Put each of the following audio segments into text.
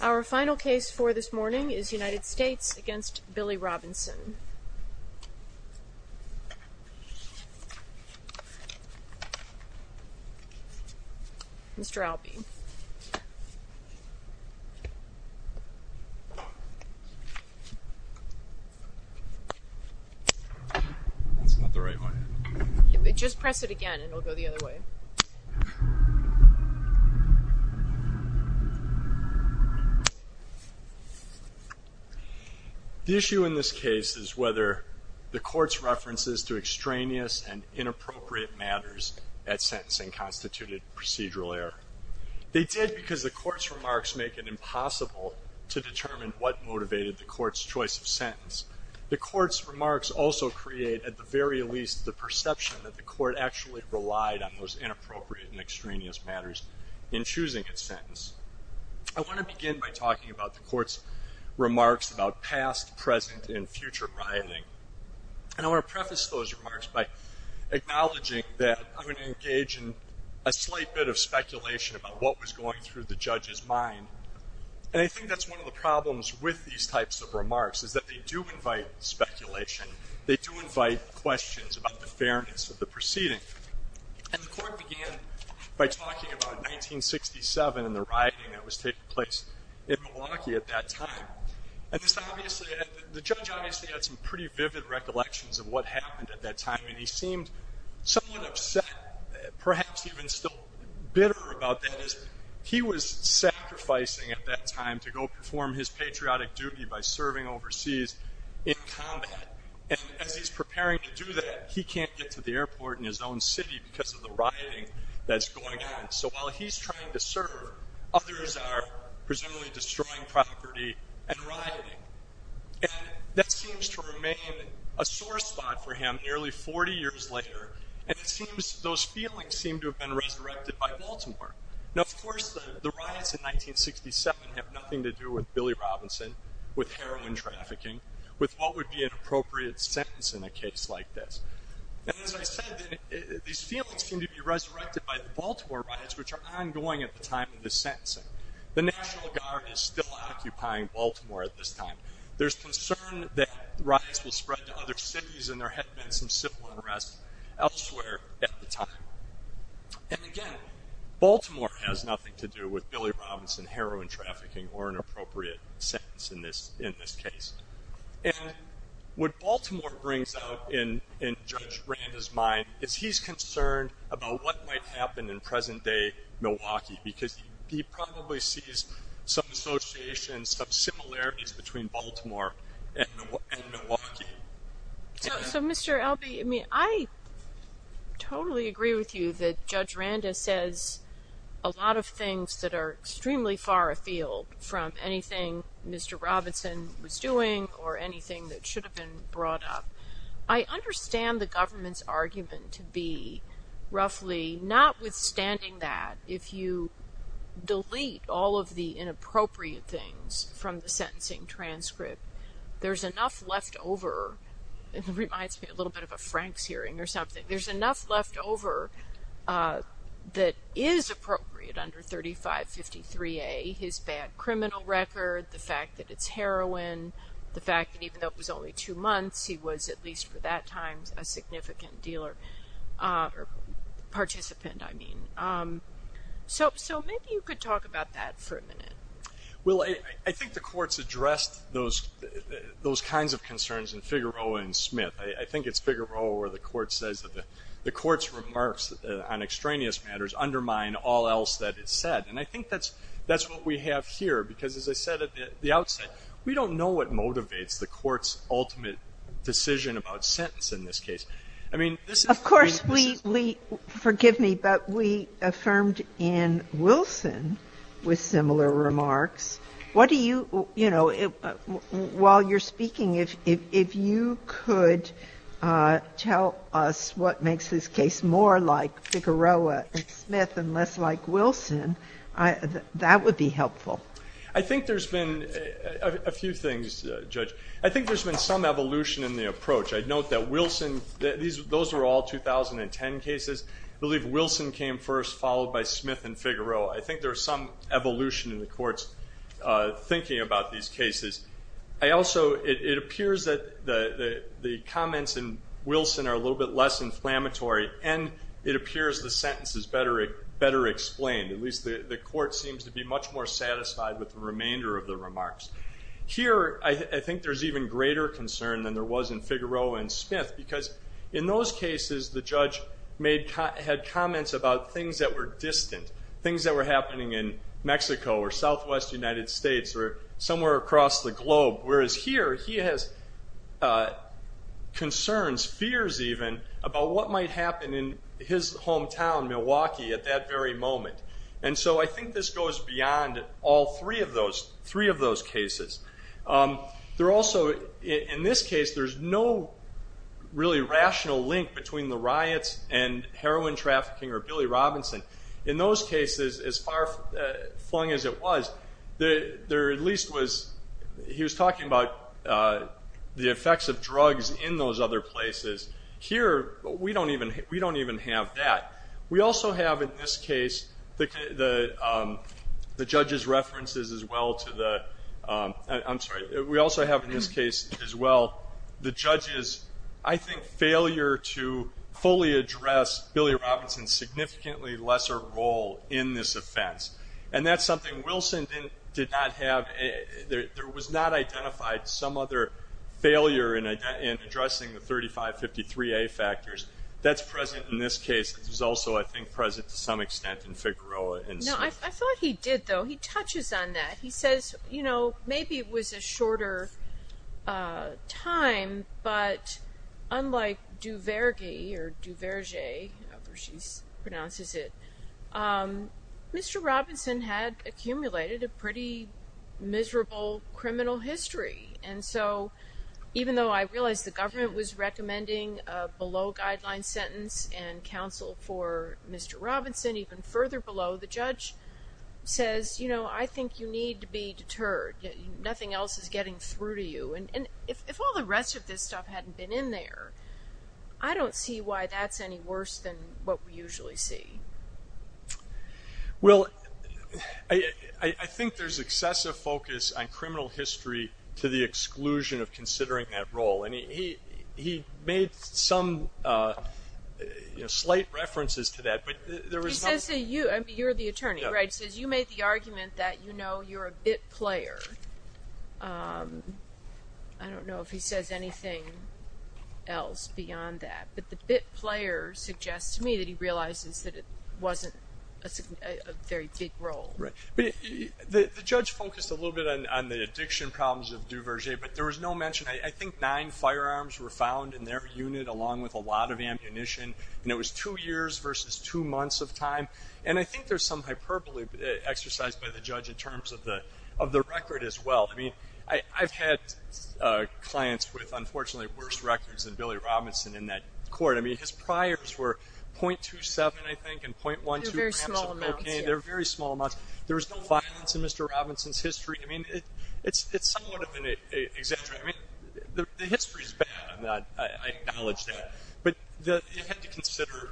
Our final case for this morning is United States v. Billy Robinson. Mr. Albee. That's not the right way. Just press it again and it'll go the other way. The issue in this case is whether the court's references to extraneous and inappropriate matters at sentencing constituted procedural error. They did because the court's remarks make it impossible to determine what motivated the court's choice of sentence. The court's remarks also create, at the very least, the perception that the court actually relied on those inappropriate and extraneous matters in choosing its sentence. I want to begin by talking about the court's remarks about past, present, and future writing. And I want to preface those remarks by acknowledging that I'm going to engage in a slight bit of speculation about what was going through the judge's mind. And I think that's one of the problems with these types of remarks, is that they do invite speculation. They do invite questions about the fairness of the proceeding. And the court began by talking about 1967 and the rioting that was taking place in Milwaukee at that time. And the judge obviously had some pretty vivid recollections of what happened at that time, and he seemed somewhat upset, perhaps even still bitter about that. He was sacrificing at that time to go perform his patriotic duty by serving overseas in combat. And as he's preparing to do that, he can't get to the airport in his own city because of the rioting that's going on. So while he's trying to serve, others are presumably destroying property and rioting. And that seems to remain a sore spot for him nearly 40 years later. And it seems those feelings seem to have been resurrected by Baltimore. Now, of course, the riots in 1967 have nothing to do with Billy Robinson, with heroin trafficking, with what would be an appropriate sentence in a case like this. And as I said, these feelings seem to be resurrected by the Baltimore riots, which are ongoing at the time of this sentencing. The National Guard is still occupying Baltimore at this time. There's concern that riots will spread to other cities and there had been some civil unrest elsewhere at the time. And again, Baltimore has nothing to do with Billy Robinson, heroin trafficking, or an appropriate sentence in this case. And what Baltimore brings out in Judge Branda's mind is he's concerned about what might happen in present-day Milwaukee, because he probably sees some associations, some similarities between Baltimore and Milwaukee. So, Mr. Albee, I mean, I totally agree with you that Judge Branda says a lot of things that are extremely far afield from anything Mr. Robinson was doing or anything that should have been brought up. I understand the government's argument to be roughly, notwithstanding that, if you delete all of the inappropriate things from the sentencing transcript, there's enough left over, it reminds me a little bit of a Franks hearing or something, there's enough left over that is appropriate under 3553A, his bad criminal record, the fact that it's heroin, the fact that even though it was only two months, he was, at least for that time, a significant dealer, or participant, I mean. So maybe you could talk about that for a minute. Well, I think the courts addressed those kinds of concerns in Figueroa and Smith. I think it's Figueroa where the court says that the court's remarks on extraneous matters undermine all else that is said. And I think that's what we have here, because as I said at the outset, we don't know what motivates the court's ultimate decision about sentence in this case. Of course, we, forgive me, but we affirmed in Wilson with similar remarks. What do you, you know, while you're speaking, if you could tell us what makes this case more like Figueroa and Smith and less like Wilson, that would be helpful. I think there's been a few things, Judge. I think there's been some evolution in the approach. I'd note that Wilson, those were all 2010 cases. I believe Wilson came first, followed by Smith and Figueroa. I think there's some evolution in the court's thinking about these cases. I also, it appears that the comments in Wilson are a little bit less inflammatory, and it appears the sentence is better explained. At least the court seems to be much more satisfied with the remainder of the remarks. Here, I think there's even greater concern than there was in Figueroa and Smith, because in those cases the judge had comments about things that were distant, things that were happening in Mexico or southwest United States or somewhere across the globe, whereas here he has concerns, fears even, about what might happen in his hometown, Milwaukee, at that very moment. I think this goes beyond all three of those cases. In this case, there's no really rational link between the riots and heroin trafficking or Billy Robinson. In those cases, as far flung as it was, there at least was, he was talking about the effects of drugs in those other places. Here, we don't even have that. We also have, in this case, the judge's references as well to the, I'm sorry, we also have in this case as well, the judge's, I think, failure to fully address Billy Robinson's significantly lesser role in this offense. And that's something Wilson did not have. There was not identified some other failure in addressing the 3553A factors. That's present in this case. It was also, I think, present to some extent in Figueroa and Smith. No, I thought he did, though. He touches on that. He says, you know, maybe it was a shorter time, but unlike Duverger, Mr. Robinson had accumulated a pretty miserable criminal history. And so even though I realize the government was recommending a below-guideline sentence and counsel for Mr. Robinson even further below, the judge says, you know, I think you need to be deterred. Nothing else is getting through to you. And if all the rest of this stuff hadn't been in there, I don't see why that's any worse than what we usually see. Well, I think there's excessive focus on criminal history to the exclusion of considering that role. And he made some slight references to that. He says to you, you're the attorney, right? He says you made the argument that, you know, you're a bit player. I don't know if he says anything else beyond that. But the bit player suggests to me that he realizes that it wasn't a very big role. Right. The judge focused a little bit on the addiction problems of Duverger, but there was no mention. I think nine firearms were found in their unit along with a lot of ammunition, and it was two years versus two months of time. And I think there's some hyperbole exercised by the judge in terms of the record as well. I mean, I've had clients with, unfortunately, worse records than Billy Robinson in that court. I mean, his priors were .27, I think, and .12 grams of cocaine. They're very small amounts. They're very small amounts. There was no violence in Mr. Robinson's history. I mean, it's somewhat of an exaggeration. I mean, the history is bad on that. I acknowledge that. But you have to consider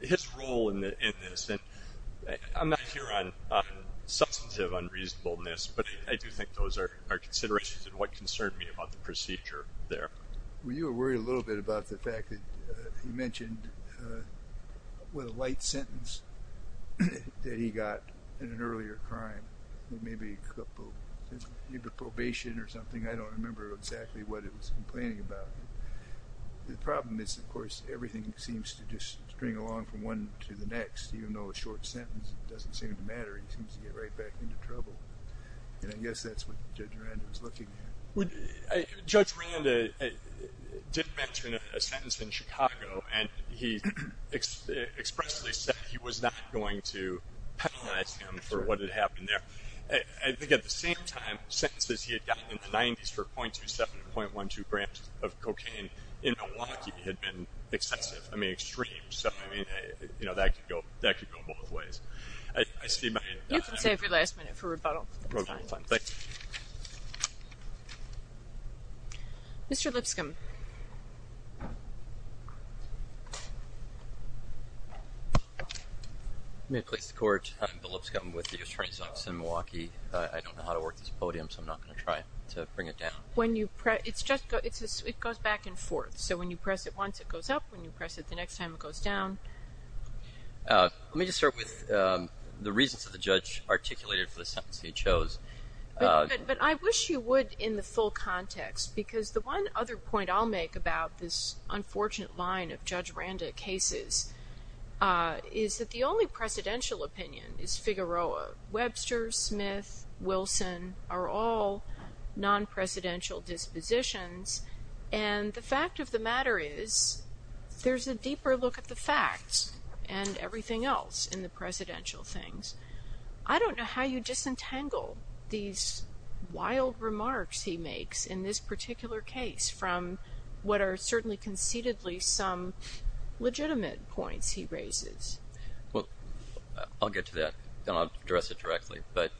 his role in this. I'm not here on substantive unreasonableness, but I do think those are considerations and what concerned me about the procedure there. Well, you were worried a little bit about the fact that he mentioned what a light sentence that he got in an earlier crime, maybe probation or something. I don't remember exactly what it was complaining about. The problem is, of course, everything seems to just string along from one to the next. Even though a short sentence doesn't seem to matter, he seems to get right back into trouble. And I guess that's what Judge Rand was looking at. Judge Rand did mention a sentence in Chicago, and he expressly said he was not going to penalize him for what had happened there. I think at the same time, sentences he had gotten in the 90s for .27 and .12 grams of cocaine in Milwaukee had been excessive. I mean, extreme. So, I mean, that could go both ways. You can save your last minute for rebuttal. That's fine. Thank you. Mr. Lipscomb. I'm going to place the court. I'm Bill Lipscomb with the U.S. Attorney's Office in Milwaukee. I don't know how to work this podium, so I'm not going to try to bring it down. It goes back and forth. So when you press it once, it goes up. When you press it the next time, it goes down. Let me just start with the reasons that the judge articulated for the sentence he chose. But I wish you would in the full context, because the one other point I'll make about this unfortunate line of Judge Randa cases is that the only presidential opinion is Figueroa. Webster, Smith, Wilson are all non-presidential dispositions. And the fact of the matter is there's a deeper look at the facts and everything else in the presidential things. I don't know how you disentangle these wild remarks he makes in this particular case from what are certainly conceitedly some legitimate points he raises. Well, I'll get to that, and I'll address it directly. But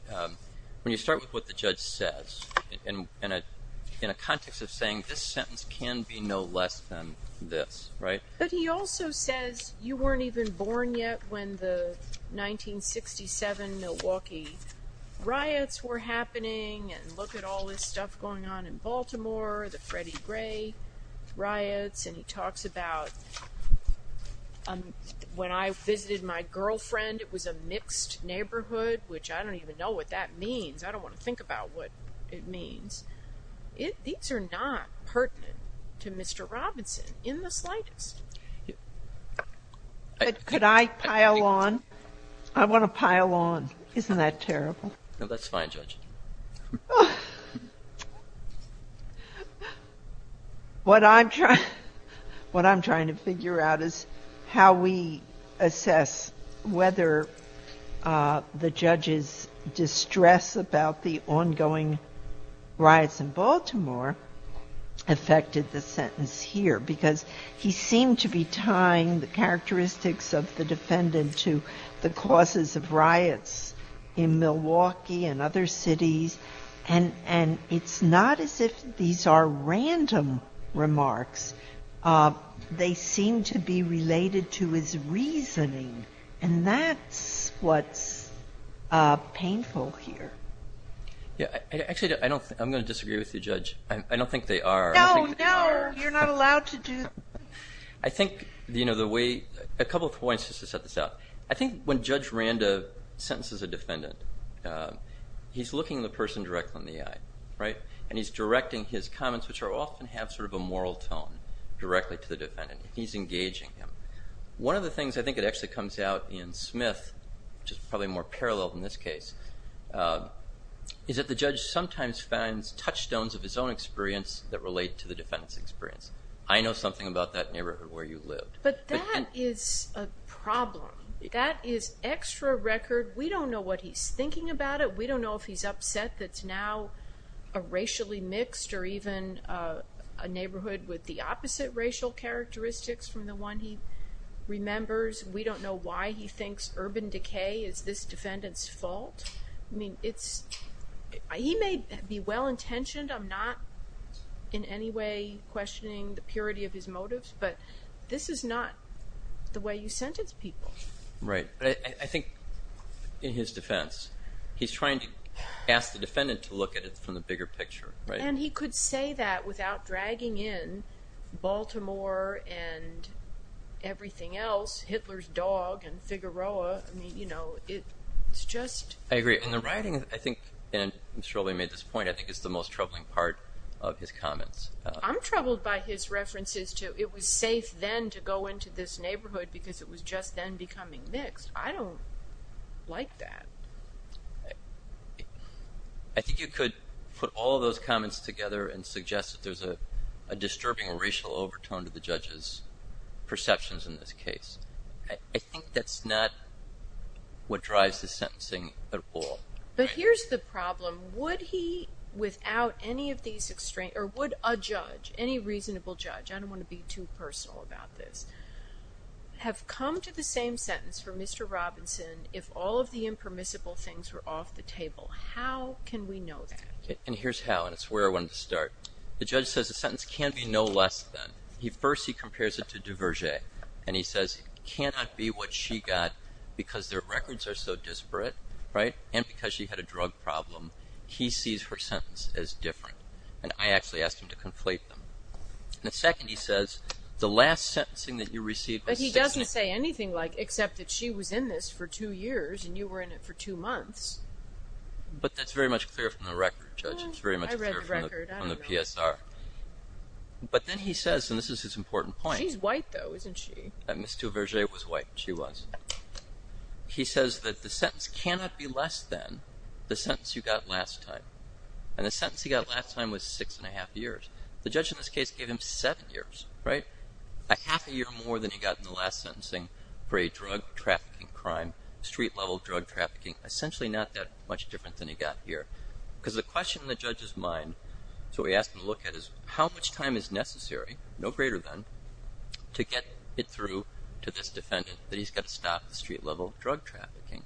when you start with what the judge says in a context of saying this sentence can be no less than this, right? But he also says you weren't even born yet when the 1967 Milwaukee riots were happening. And look at all this stuff going on in Baltimore, the Freddie Gray riots. And he talks about when I visited my girlfriend, it was a mixed neighborhood, which I don't even know what that means. I don't want to think about what it means. These are not pertinent to Mr. Robinson in the slightest. Could I pile on? I want to pile on. Isn't that terrible? No, that's fine, Judge. What I'm trying to figure out is how we assess whether the judge's distress about the ongoing riots in Baltimore affected the sentence here. Because he seemed to be tying the characteristics of the defendant to the causes of riots in Milwaukee and other cities. And it's not as if these are random remarks. They seem to be related to his reasoning. And that's what's painful here. Actually, I'm going to disagree with you, Judge. I don't think they are. No, no, you're not allowed to do that. I think a couple of points just to set this out. I think when Judge Randa sentences a defendant, he's looking the person directly in the eye. And he's directing his comments, which often have sort of a moral tone, directly to the defendant. He's engaging him. One of the things I think that actually comes out in Smith, which is probably more parallel than this case, is that the judge sometimes finds touchstones of his own experience that relate to the defendant's experience. I know something about that neighborhood where you lived. But that is a problem. That is extra record. We don't know what he's thinking about it. We don't know if he's upset that it's now a racially mixed or even a neighborhood with the opposite racial characteristics from the one he remembers. We don't know why he thinks urban decay is this defendant's fault. I mean, he may be well-intentioned. I'm not in any way questioning the purity of his motives. But this is not the way you sentence people. Right. I think in his defense, he's trying to ask the defendant to look at it from the bigger picture. And he could say that without dragging in Baltimore and everything else, Hitler's dog and Figueroa. I mean, you know, it's just... I agree. And the writing, I think, and I'm sure we made this point, I think it's the most troubling part of his comments. I'm troubled by his references to it was safe then to go into this neighborhood because it was just then becoming mixed. I don't like that. I think you could put all of those comments together and suggest that there's a disturbing racial overtone to the judge's perceptions in this case. I think that's not what drives the sentencing at all. And here's how, and it's where I wanted to start. The judge says the sentence can be no less than. First, he compares it to Duverger. And he says it cannot be what she got because their records are so disparate. And because she had a drug problem, he sees her sentence as different. And I actually asked him to conflate them. The second, he says, the last sentencing that you received... But he doesn't say anything like except that she was in this for two years and you were in it for two months. But that's very much clear from the record, Judge. It's very much clear from the PSR. But then he says, and this is his important point... She's white though, isn't she? Ms. Duverger was white. She was. He says that the sentence cannot be less than the sentence you got last time. And the sentence he got last time was six and a half years. The judge in this case gave him seven years, right? A half a year more than he got in the last sentencing for a drug trafficking crime, street-level drug trafficking. Essentially not that much different than he got here. Because the question in the judge's mind, so we asked him to look at is, how much time is necessary, no greater than, to get it through to this defendant that he's got to stop the street-level drug trafficking?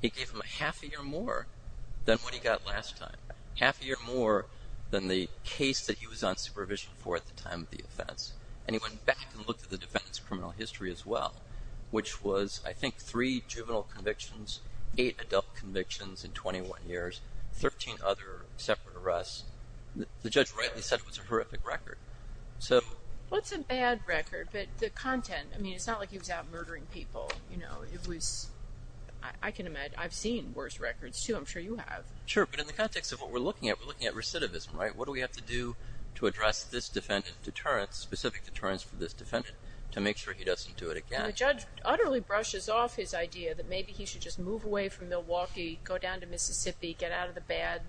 He gave him a half a year more than what he got last time. Half a year more than the case that he was on supervision for at the time of the offense. And he went back and looked at the defendant's criminal history as well, which was, I think, three juvenile convictions, eight adult convictions in 21 years, 13 other separate arrests. The judge rightly said it was a horrific record. Well, it's a bad record, but the content, I mean, it's not like he was out murdering people. It was, I can imagine, I've seen worse records too, I'm sure you have. Sure, but in the context of what we're looking at, we're looking at recidivism, right? What do we have to do to address this defendant's deterrence, specific deterrence for this defendant, to make sure he doesn't do it again? The judge utterly brushes off his idea that maybe he should just move away from Milwaukee, go down to Mississippi, get out of the bad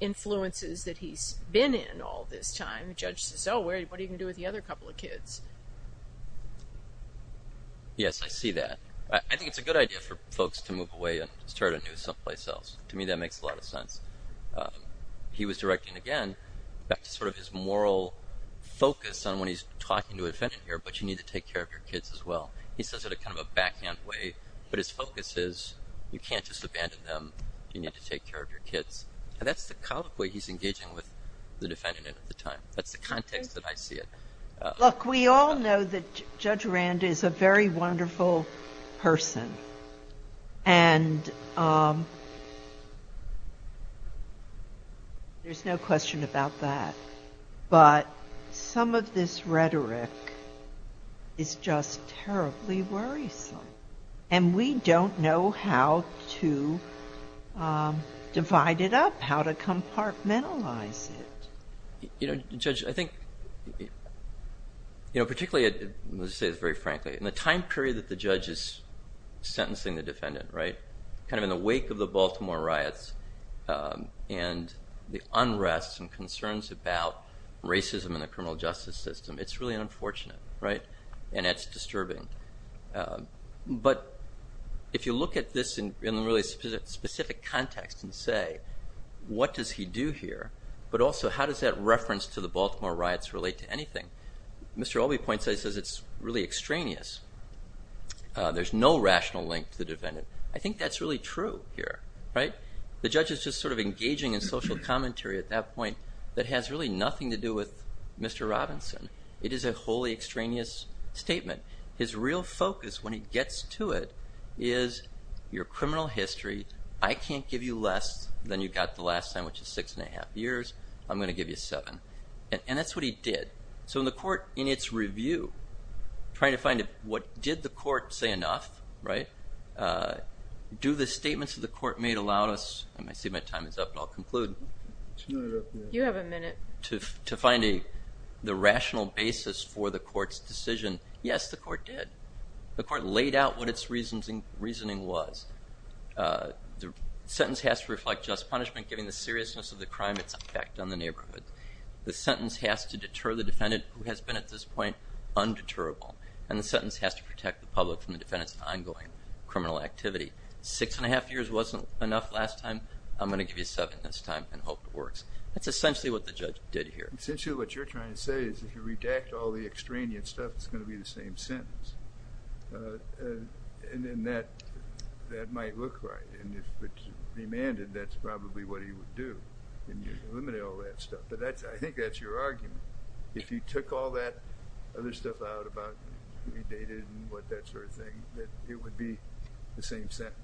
influences that he's been in all this time. And the judge says, oh, what are you going to do with the other couple of kids? Yes, I see that. I think it's a good idea for folks to move away and start anew someplace else. To me, that makes a lot of sense. He was directing, again, back to sort of his moral focus on when he's talking to a defendant here, but you need to take care of your kids as well. He says it in kind of a backhand way, but his focus is you can't just abandon them. You need to take care of your kids. And that's the kind of way he's engaging with the defendant at the time. That's the context that I see it. Look, we all know that Judge Rand is a very wonderful person. And there's no question about that. But some of this rhetoric is just terribly worrisome. And we don't know how to divide it up, how to compartmentalize it. You know, Judge, I think particularly, I'm going to say this very frankly, in the time period that the judge is sentencing the defendant, right, kind of in the wake of the Baltimore riots and the unrest and concerns about racism in the criminal justice system, it's really unfortunate, right, and it's disturbing. But if you look at this in a really specific context and say what does he do here, but also how does that reference to the Baltimore riots relate to anything? Mr. Albee points out he says it's really extraneous. There's no rational link to the defendant. I think that's really true here, right? The judge is just sort of engaging in social commentary at that point that has really nothing to do with Mr. Robinson. It is a wholly extraneous statement. His real focus when he gets to it is your criminal history. I can't give you less than you got the last time, which is six and a half years. I'm going to give you seven. And that's what he did. So in the court, in its review, trying to find what did the court say enough, right, do the statements that the court made allow us, and I see my time is up, but I'll conclude. You have a minute. To find the rational basis for the court's decision. Yes, the court did. The court laid out what its reasoning was. The sentence has to reflect just punishment, giving the seriousness of the crime its effect on the neighborhood. The sentence has to deter the defendant, who has been at this point undeterrable, and the sentence has to protect the public from the defendant's ongoing criminal activity. Six and a half years wasn't enough last time. I'm going to give you seven this time and hope it works. That's essentially what the judge did here. Essentially what you're trying to say is if you redact all the extraneous stuff, it's going to be the same sentence. And then that might look right. And if it's demanded, that's probably what he would do, and you'd eliminate all that stuff. But I think that's your argument. If you took all that other stuff out about who he dated and what that sort of thing, that it would be the same sentence.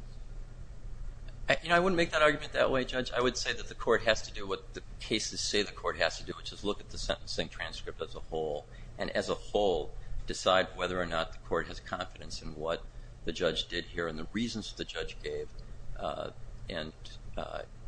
You know, I wouldn't make that argument that way, Judge. I would say that the court has to do what the cases say the court has to do, which is look at the sentencing transcript as a whole, and as a whole decide whether or not the court has confidence in what the judge did here and the reasons the judge gave. And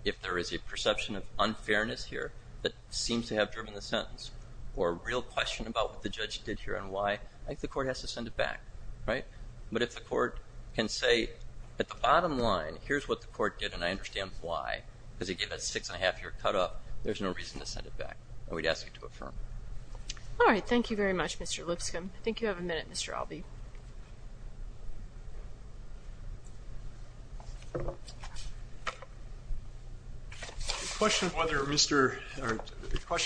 if there is a perception of unfairness here that seems to have driven the sentence or a real question about what the judge did here and why, I think the court has to send it back. But if the court can say at the bottom line, here's what the court did and I understand why, because he gave that six-and-a-half-year cut up, there's no reason to send it back. And we'd ask it to affirm. All right. Thank you very much, Mr. Lipscomb. I think you have a minute, Mr. Albee. The question of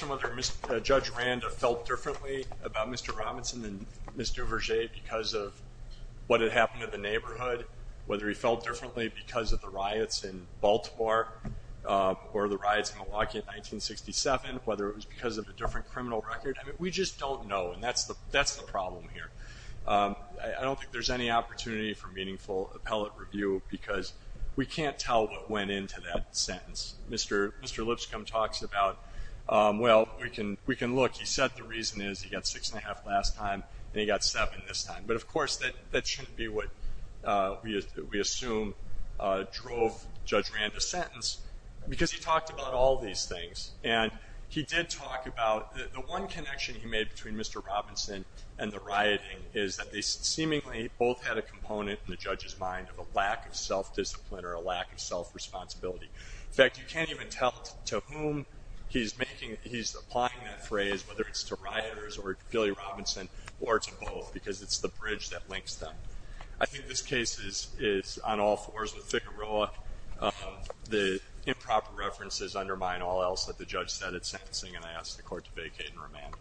whether Judge Randa felt differently about Mr. Robinson than Mr. Verge because of what had happened in the neighborhood, whether he felt differently because of the riots in Baltimore or the riots in Milwaukee in 1967, whether it was because of a different criminal record, we just don't know. And that's the problem here. I don't think there's any opportunity for meaningful appellate review because we can't tell what went into that sentence. Mr. Lipscomb talks about, well, we can look. He said the reason is he got six-and-a-half last time and he got seven this time. But, of course, that shouldn't be what we assume drove Judge Randa's sentence because he talked about all these things. And he did talk about the one connection he made between Mr. Robinson and the rioting is that they seemingly both had a component in the judge's mind of a lack of self-discipline or a lack of self-responsibility. In fact, you can't even tell to whom he's applying that phrase, whether it's to rioters or to Billy Robinson or to both because it's the bridge that links them. I think this case is on all fours with FICAROA. The improper references undermine all else that the judge said at sentencing, and I ask the court to vacate and remand.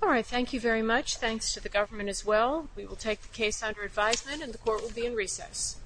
All right, thank you very much. Thanks to the government as well. We will take the case under advisement, and the court will be in recess.